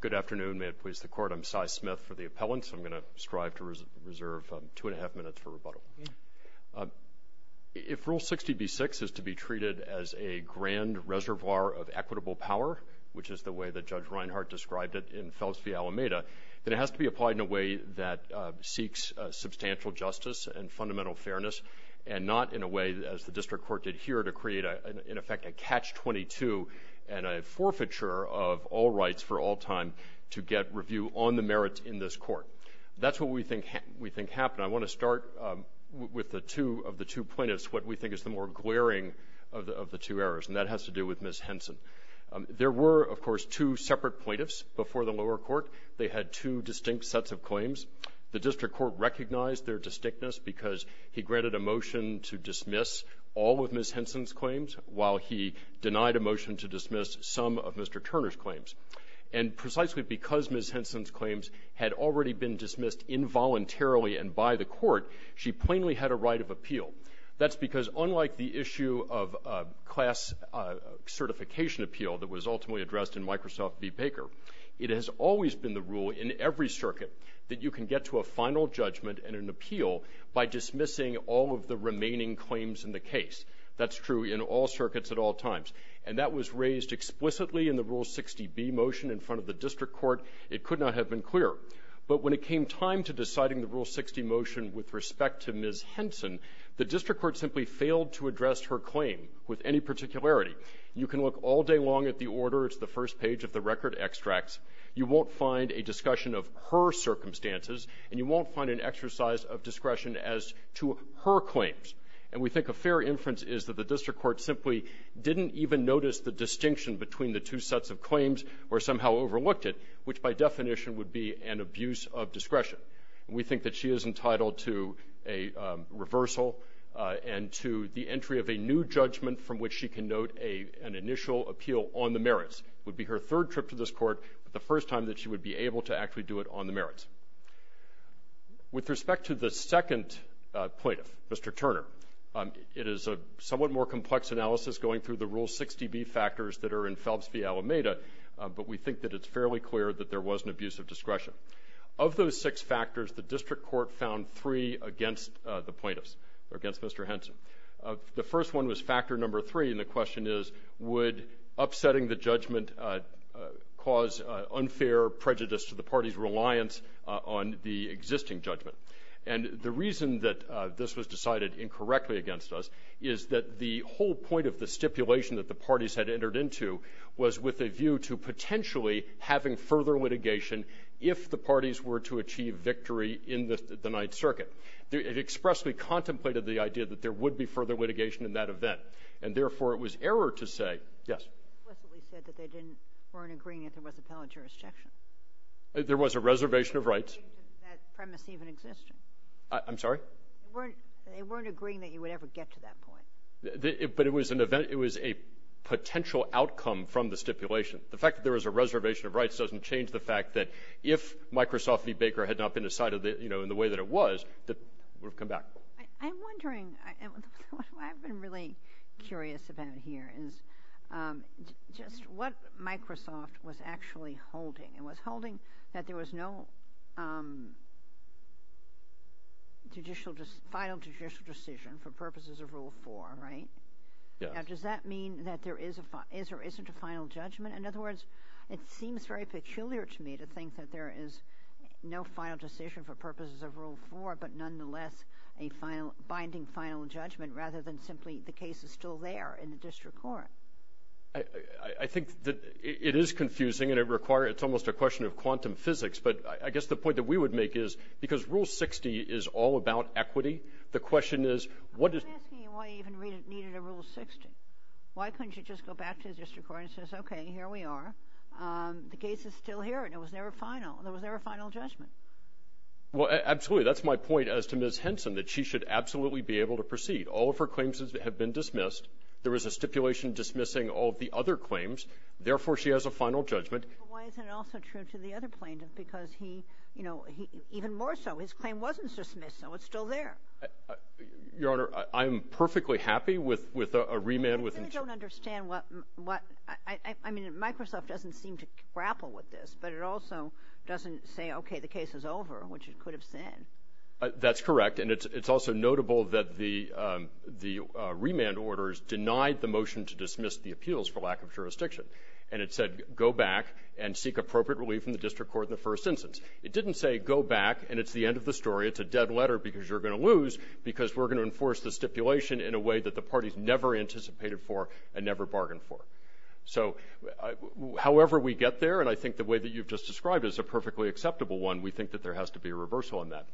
Good afternoon. May it please the Court, I'm Sy Smith for the Appellant, so I'm going to strive to reserve two and a half minutes for rebuttal. If Rule 60b-6 is to be treated as a grand reservoir of equitable power, which is the way that Judge Reinhart described it in Fels v. Alameda, then it has to be applied in a way that seeks substantial justice and fundamental fairness and not in a way, as the District Court did here, to create, in a forfeiture of all rights for all time to get review on the merits in this Court. That's what we think happened. I want to start with the two, of the two plaintiffs, what we think is the more glaring of the two errors, and that has to do with Ms. Henson. There were, of course, two separate plaintiffs before the lower court. They had two distinct sets of claims. The District Court recognized their distinctness because he granted a motion to dismiss some of Mr. Turner's claims. And precisely because Ms. Henson's claims had already been dismissed involuntarily and by the Court, she plainly had a right of appeal. That's because, unlike the issue of a class certification appeal that was ultimately addressed in Microsoft v. Baker, it has always been the rule in every circuit that you can get to a final judgment and an appeal by dismissing all of the remaining claims in the case. That's true in all circuits at all times. And that was raised explicitly in the Rule 60b motion in front of the District Court. It could not have been clearer. But when it came time to deciding the Rule 60 motion with respect to Ms. Henson, the District Court simply failed to address her claim with any particularity. You can look all day long at the order. It's the first page of the record extracts. You won't find a discussion of her circumstances, and you won't find an exercise of discretion as to her claims. And we think a fair inference is that the District Court simply didn't even notice the distinction between the two sets of claims or somehow overlooked it, which by definition would be an abuse of discretion. And we think that she is entitled to a reversal and to the entry of a new judgment from which she can note an initial appeal on the merits. It would be her third trip to this Court, but the first time that she would be able to actually do it on the merits. With respect to the second plaintiff, Mr. Turner, it is a somewhat more complex analysis going through the Rule 60b factors that are in Phelps v. Alameda, but we think that it's fairly clear that there was an abuse of discretion. Of those six factors, the District Court found three against the plaintiffs, against Mr. Henson. The first one was factor number three, and the question is, would upsetting the judgment cause unfair prejudice to the party's judgment? The second one, which was decided incorrectly against us, is that the whole point of the stipulation that the parties had entered into was with a view to potentially having further litigation if the parties were to achieve victory in the Ninth Circuit. It expressly contemplated the idea that there would be further litigation in that event, and therefore it was error to say yes. It explicitly said that they weren't agreeing that there was appellate jurisdiction. There was a reservation of rights. That premise even existed. I'm sorry? They weren't agreeing that you would ever get to that point. But it was a potential outcome from the stipulation. The fact that there was a reservation of rights doesn't change the fact that if Microsoft v. Baker had not been decided in the way that it was, it would have come back. I'm wondering, what I've been really curious about here is just what Microsoft was actually holding. It was holding that there was no final judicial decision for purposes of Rule 4, right? Yes. Now, does that mean that there is or isn't a final judgment? In other words, it seems very peculiar to me to think that there is no final decision for purposes of Rule 4, but nonetheless a binding final judgment rather than simply the case is still there in the district court. I think that it is confusing, and it's almost a question of quantum physics. But I guess the point that we would make is because Rule 60 is all about equity. The question is what is – I'm asking you why you even needed a Rule 60. Why couldn't you just go back to the district court and say, okay, here we are. The case is still here, and it was never final. There was never a final judgment. Well, absolutely. That's my point as to Ms. Henson, that she should absolutely be able to proceed. All of her claims have been dismissed. There was a stipulation dismissing all of the other claims. Therefore, she has a final judgment. But why isn't it also true to the other plaintiff? Because he – you know, even more so, his claim wasn't dismissed, so it's still there. Your Honor, I'm perfectly happy with a remand with – I really don't understand what – I mean, Microsoft doesn't seem to grapple with this, but it also doesn't say, okay, the case is over, which it could have said. That's correct, and it's also notable that the remand orders denied the motion to dismiss the appeals for lack of jurisdiction. And it said go back and seek appropriate relief from the district court in the first instance. It didn't say go back and it's the end of the story. It's a dead letter because you're going to lose because we're going to enforce the stipulation in a way that the parties never anticipated for and never bargained for. So however we get there, and I think the way that you've just described it is a perfectly acceptable one, we think that there has to be a reversal on that.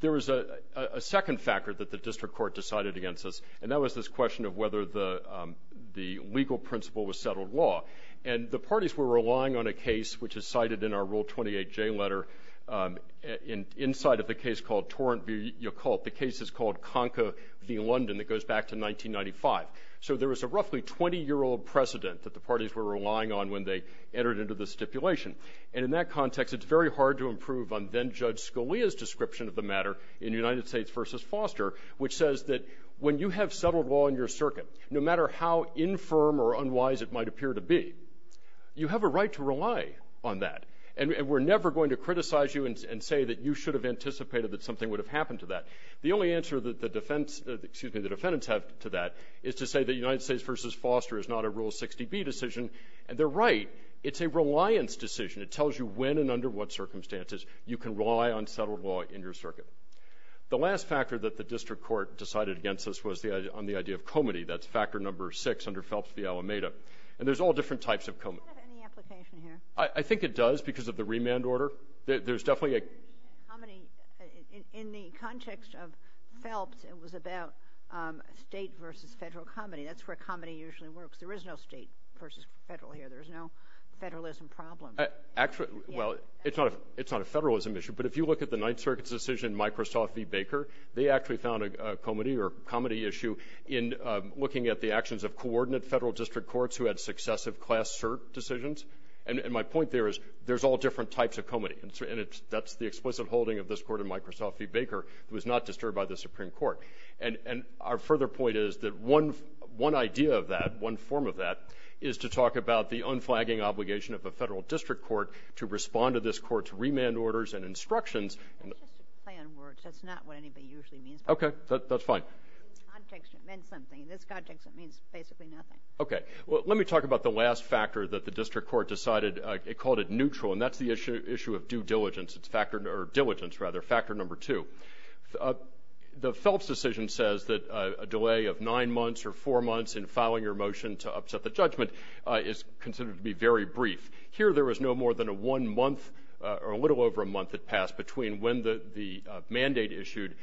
There is a second factor that the district court decided against us, and that was this question of whether the legal principle was settled law. And the parties were relying on a case which is cited in our Rule 28J letter inside of the case called Torrent v. Yacoult. The case is called Conca v. London. It goes back to 1995. So there was a roughly 20-year-old precedent that the parties were relying on when they entered into the stipulation. And in that context, it's very hard to improve on then-Judge Scalia's description of the matter in United States v. Foster, which says that when you have settled law in your circuit, no matter how infirm or unwise it might appear to be, you have a right to rely on that. And we're never going to criticize you and say that you should have anticipated that something would have happened to that. The only answer that the defense – excuse me, the defendants have to that is to say that United States v. Foster is not a Rule 60B decision. And they're right. It's a reliance decision. It tells you when and under what circumstances you can rely on settled law in your circuit. The last factor that the district court decided against us was the – on the idea of comity. That's Factor No. 6 under Phelps v. Alameda. And there's all different types of comity. I think it does because of the remand order. In the context of Phelps, it was about state v. federal comity. That's where comity usually works. There is no state v. federal here. There is no federalism problem. Well, it's not a federalism issue. But if you look at the Ninth Circuit's decision in Microsoft v. Baker, they actually found a comity or comity issue in looking at the actions of coordinate federal district courts who had successive class cert decisions. And my point there is there's all different types of comity. And that's the explicit holding of this court in Microsoft v. Baker. It was not disturbed by the Supreme Court. And our further point is that one idea of that, one form of that, is to talk about the unflagging obligation of a federal district court to respond to this court's remand orders and instructions. That's just a play on words. That's not what anybody usually means by that. Okay. That's fine. In this context, it means something. In this context, it means basically nothing. Okay. Well, let me talk about the last factor that the district court decided. It called it neutral. And that's the issue of due diligence. It's factor or diligence, rather, factor number two. The Phelps decision says that a delay of nine months or four months in filing your motion to upset the judgment is considered to be very brief. Here there was no more than a one month or a little over a month that passed between when the mandate issued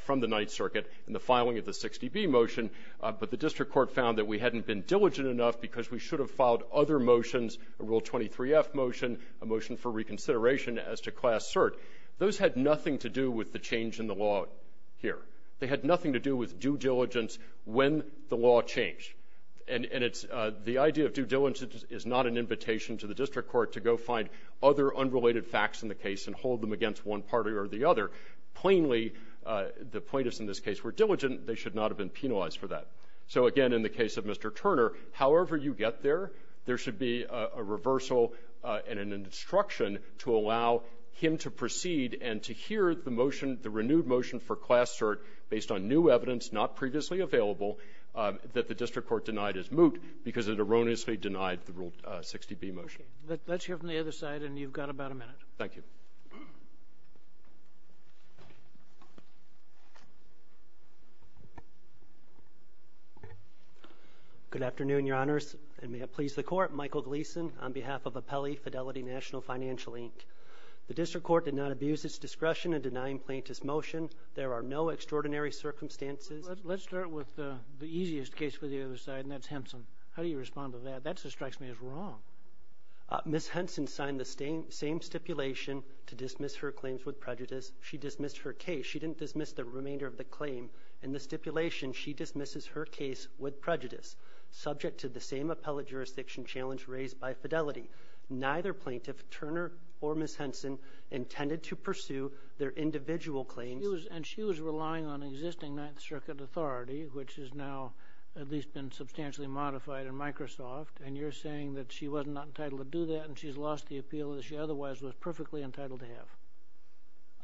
from the Ninth Circuit and the filing of the 60B motion. But the district court found that we hadn't been diligent enough because we should have filed other motions, a Rule 23F motion, a motion for reconsideration as to Class Cert. Those had nothing to do with the change in the law here. They had nothing to do with due diligence when the law changed. And it's the idea of due diligence is not an invitation to the district court to go find other unrelated facts in the case and hold them against one party or the other. Plainly, the plaintiffs in this case were diligent. They should not have been penalized for that. So, again, in the case of Mr. Turner, however you get there, there should be a reversal and an instruction to allow him to proceed and to hear the motion, the renewed motion for Class Cert based on new evidence not previously available that the district court denied as moot because it erroneously denied the Rule 60B motion. Let's hear from the other side, and you've got about a minute. Thank you. Good afternoon, Your Honors, and may it please the Court. Michael Gleason on behalf of Apelli Fidelity National Financial, Inc. The district court did not abuse its discretion in denying plaintiff's motion. There are no extraordinary circumstances. Let's start with the easiest case for the other side, and that's Henson. How do you respond to that? That strikes me as wrong. Ms. Henson signed the same stipulation to dismiss her claims with prejudice. She dismissed her case. She didn't dismiss the remainder of the claim. In the stipulation, she dismisses her case with prejudice, subject to the same appellate jurisdiction challenge raised by Fidelity. Neither plaintiff, Turner or Ms. Henson, intended to pursue their individual claims. And she was relying on existing Ninth Circuit authority, which has now at least been modified in Microsoft, and you're saying that she was not entitled to do that, and she's lost the appeal that she otherwise was perfectly entitled to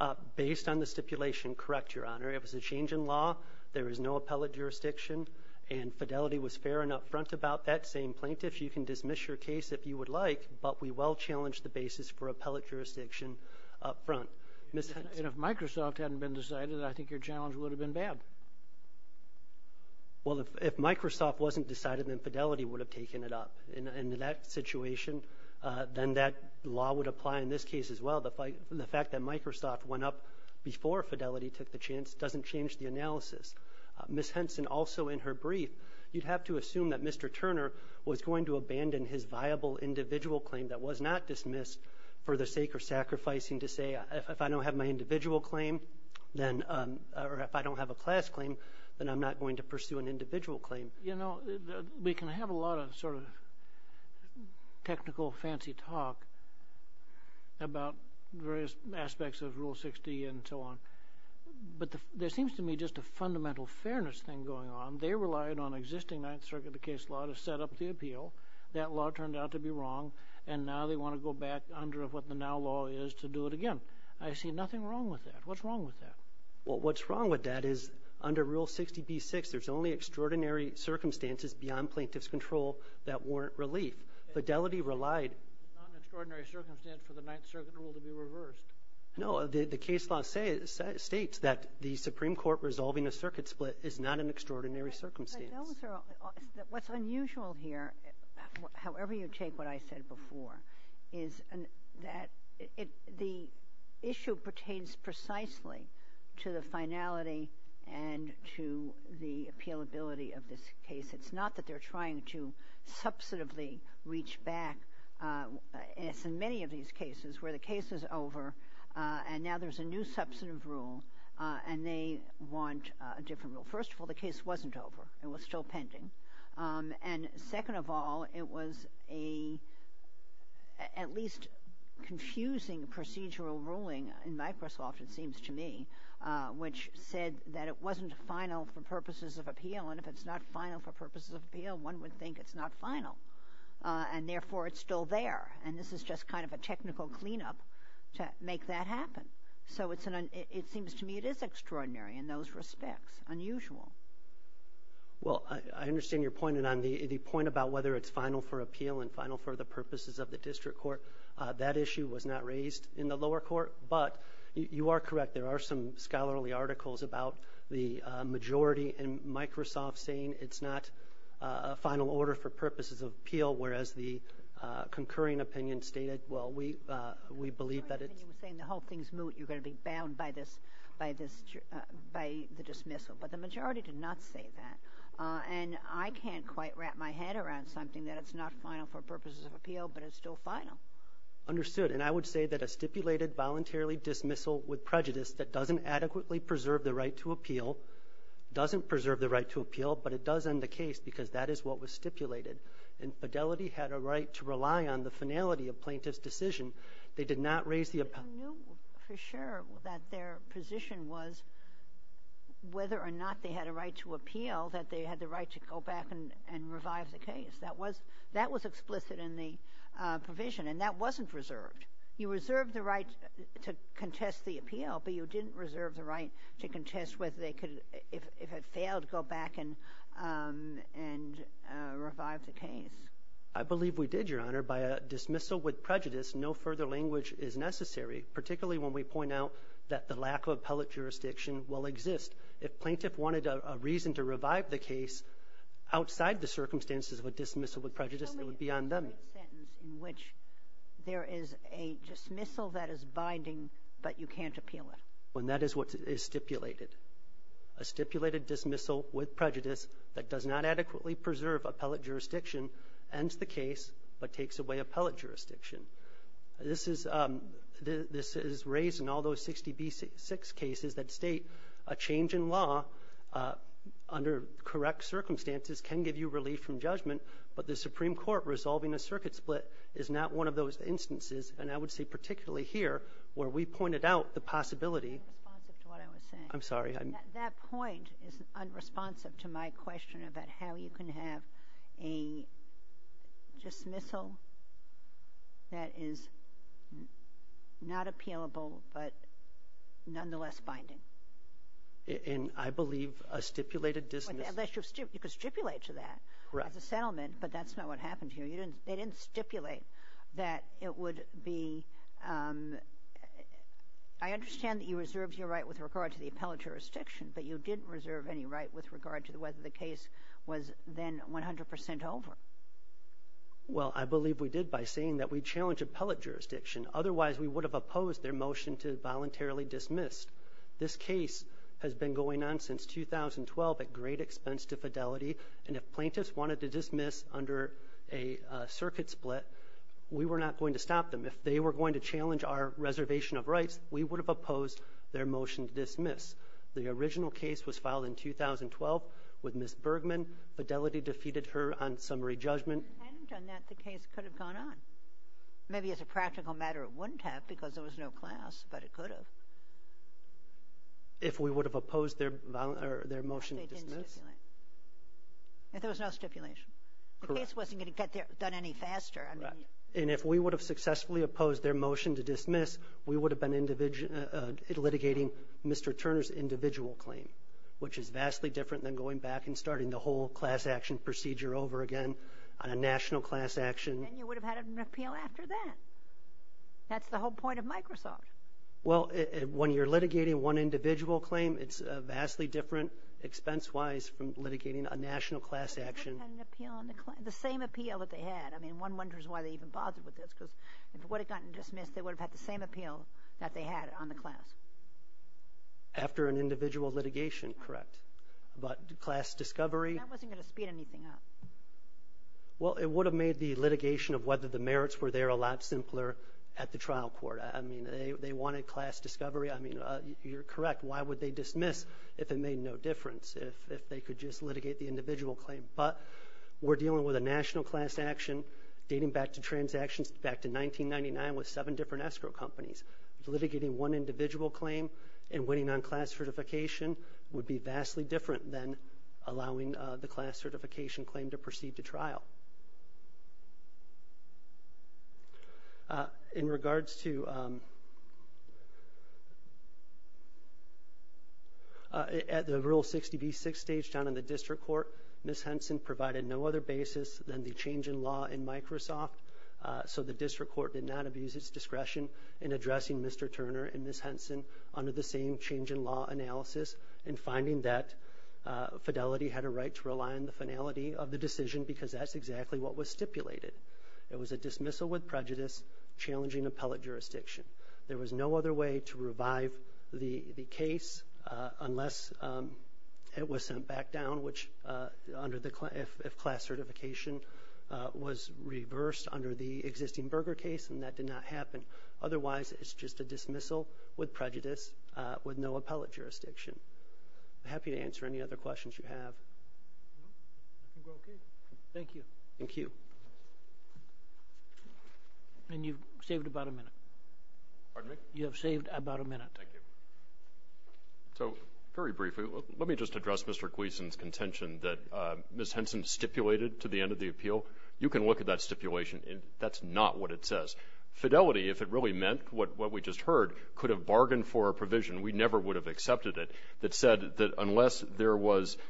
have. Based on the stipulation, correct, Your Honor. It was a change in law. There is no appellate jurisdiction, and Fidelity was fair and up front about that, saying, Plaintiffs, you can dismiss your case if you would like, but we will challenge the basis for appellate jurisdiction up front. And if Microsoft hadn't been decided, I think your challenge would have been bad. Well, if Microsoft wasn't decided, then Fidelity would have taken it up. In that situation, then that law would apply in this case as well. The fact that Microsoft went up before Fidelity took the chance doesn't change the analysis. Ms. Henson, also in her brief, you'd have to assume that Mr. Turner was going to abandon his viable individual claim that was not dismissed for the sake of sacrificing to say, if I don't have my individual claim, or if I don't have a class claim, then I'm not going to pursue an individual claim. You know, we can have a lot of sort of technical fancy talk about various aspects of Rule 60 and so on, but there seems to me just a fundamental fairness thing going on. They relied on existing Ninth Circuit case law to set up the appeal. That law turned out to be wrong, and now they want to go back under what the now law is to do it again. I see nothing wrong with that. What's wrong with that? Well, what's wrong with that is under Rule 60b-6, there's only extraordinary circumstances beyond plaintiff's control that warrant relief. Fidelity relied. It's not an extraordinary circumstance for the Ninth Circuit rule to be reversed. No. The case law states that the Supreme Court resolving a circuit split is not an extraordinary circumstance. What's unusual here, however you take what I said before, is that the issue pertains precisely to the finality and to the appealability of this case. It's not that they're trying to substantively reach back. It's in many of these cases where the case is over, and now there's a new substantive rule, and they want a different rule. First of all, the case wasn't over. It was still pending. Second of all, it was at least a confusing procedural ruling in Microsoft, it seems to me, which said that it wasn't final for purposes of appeal. If it's not final for purposes of appeal, one would think it's not final, and therefore it's still there. This is just kind of a technical cleanup to make that happen. It seems to me it is extraordinary in those respects, unusual. Well, I understand your point, and on the point about whether it's final for appeal and final for the purposes of the district court, that issue was not raised in the lower court, but you are correct. There are some scholarly articles about the majority in Microsoft saying it's not final order for purposes of appeal, whereas the concurring opinion stated, well, we believe that it's... You were saying the whole thing's moot. You're going to be bound by this, by the dismissal. But the majority did not say that. And I can't quite wrap my head around something that it's not final for purposes of appeal, but it's still final. Understood. And I would say that a stipulated voluntarily dismissal with prejudice that doesn't adequately preserve the right to appeal doesn't preserve the right to appeal, but it does end the case because that is what was stipulated. And Fidelity had a right to rely on the finality of plaintiff's decision. They did not raise the... I knew for sure that their position was whether or not they had a right to appeal, that they had the right to go back and revive the case. That was explicit in the provision, and that wasn't reserved. You reserved the right to contest the appeal, but you didn't reserve the right to contest whether they could, if it failed, go back and revive the case. I believe we did, Your Honor. If a plaintiff is convicted of a dismissal with prejudice, no further language is necessary, particularly when we point out that the lack of appellate jurisdiction will exist. If plaintiff wanted a reason to revive the case outside the circumstances of a dismissal with prejudice, it would be on them. How many have heard a sentence in which there is a dismissal that is binding, but you can't appeal it? When that is what is stipulated. A stipulated dismissal with prejudice that does not adequately preserve appellate jurisdiction ends the case, but takes away appellate jurisdiction. This is raised in all those 66 cases that state a change in law under correct circumstances can give you relief from judgment, but the Supreme Court resolving a circuit split is not one of those instances, and I would say particularly here, where we pointed out the possibility. I'm sorry. That point is unresponsive to my question about how you can have a dismissal that is not appealable, but nonetheless binding. In, I believe, a stipulated dismissal. You could stipulate to that as a settlement, but that's not what happened here. They didn't stipulate that it would be. I understand that you reserved your right with regard to the appellate jurisdiction, but you didn't reserve any right with regard to whether the case was then 100 percent over. Well, I believe we did by saying that we challenge appellate jurisdiction. Otherwise, we would have opposed their motion to voluntarily dismiss. This case has been going on since 2012 at great expense to fidelity, and if plaintiffs wanted to dismiss under a circuit split, we were not going to stop them. If they were going to challenge our reservation of rights, we would have opposed their motion to dismiss. The original case was filed in 2012 with Ms. Bergman. Fidelity defeated her on summary judgment. And on that, the case could have gone on. Maybe as a practical matter, it wouldn't have because there was no class, but it could have. If we would have opposed their motion to dismiss. They didn't stipulate. If there was no stipulation. Correct. The case wasn't going to get done any faster. Correct. And if we would have successfully opposed their motion to dismiss, we would have been litigating Mr. Turner's individual claim, which is vastly different than going back and starting the whole class action procedure over again on a national class action. And you would have had an appeal after that. That's the whole point of Microsoft. Well, when you're litigating one individual claim, it's vastly different expense-wise from litigating a national class action. The same appeal that they had. I mean, one wonders why they even bothered with this. Because if it would have gotten dismissed, they would have had the same appeal that they had on the class. After an individual litigation. Correct. But class discovery. That wasn't going to speed anything up. Well, it would have made the litigation of whether the merits were there a lot simpler at the trial court. I mean, they wanted class discovery. I mean, you're correct. Why would they dismiss if it made no difference, if they could just litigate the individual claim? But we're dealing with a national class action dating back to transactions back to 1999 with seven different escrow companies. Litigating one individual claim and waiting on class certification would be vastly different than allowing the class certification claim to proceed to trial. In regards to, at the Rule 60B6 stage down in the district court, Ms. Henson provided no other basis than the change in law in Microsoft. So the district court did not abuse its discretion in addressing Mr. Turner and Ms. Henson under the same change in law analysis. And finding that Fidelity had a right to rely on the finality of the decision because that's exactly what was stipulated. It was a dismissal with prejudice, challenging appellate jurisdiction. There was no other way to revive the case unless it was sent back down, which if class certification was reversed under the existing Berger case, and that did not happen. Otherwise, it's just a dismissal with prejudice with no appellate jurisdiction. I'm happy to answer any other questions you have. I think we're okay. Thank you. Thank you. And you've saved about a minute. Pardon me? You have saved about a minute. Thank you. So, very briefly, let me just address Mr. Gleason's contention that Ms. Henson stipulated to the end of the appeal. You can look at that stipulation. That's not what it says. Fidelity, if it really meant what we just heard, could have bargained for a provision. We never would have accepted it that said that unless there was –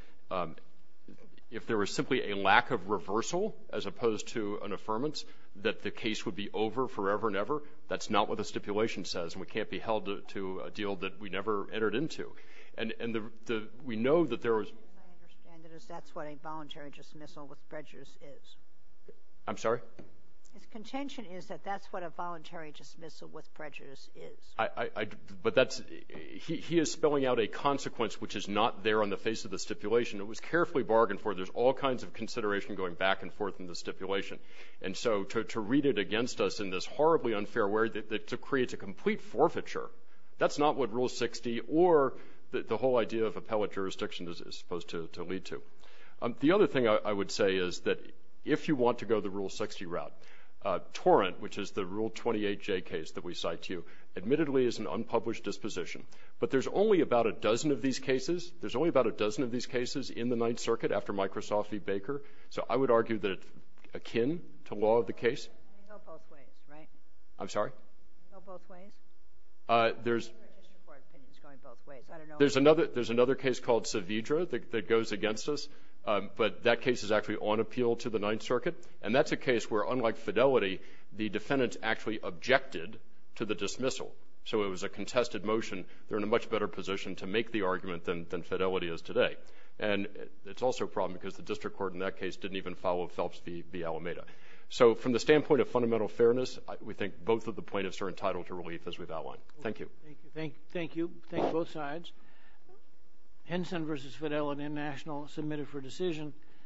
if there was simply a lack of reversal as opposed to an affirmance that the case would be over forever and ever, that's not what the stipulation says, and we can't be held to a deal that we never entered into. And we know that there was – My understanding is that's what a voluntary dismissal with prejudice is. I'm sorry? His contention is that that's what a voluntary dismissal with prejudice is. But that's – he is spelling out a consequence which is not there on the face of the stipulation. It was carefully bargained for. There's all kinds of consideration going back and forth in the stipulation. And so to read it against us in this horribly unfair way, it creates a complete forfeiture. That's not what Rule 60 or the whole idea of appellate jurisdiction is supposed to lead to. The other thing I would say is that if you want to go the Rule 60 route, torrent, which is the Rule 28J case that we cite to you, admittedly is an unpublished disposition. But there's only about a dozen of these cases. There's only about a dozen of these cases in the Ninth Circuit after Microsoft v. Baker. So I would argue that it's akin to law of the case. You know both ways, right? I'm sorry? You know both ways? There's – I just record opinions going both ways. I don't know – There's another case called Saavedra that goes against us, but that case is actually on appeal to the Ninth Circuit. And that's a case where unlike Fidelity, the defendants actually objected to the dismissal. So it was a contested motion. They're in a much better position to make the argument than Fidelity is today. And it's also a problem because the district court in that case didn't even follow Phelps v. Alameda. So from the standpoint of fundamental fairness, we think both of the plaintiffs are entitled to relief as we've outlined. Thank you. Thank you. Thank you. Thank you both sides. Henson v. Fidelity and National submitted for decision.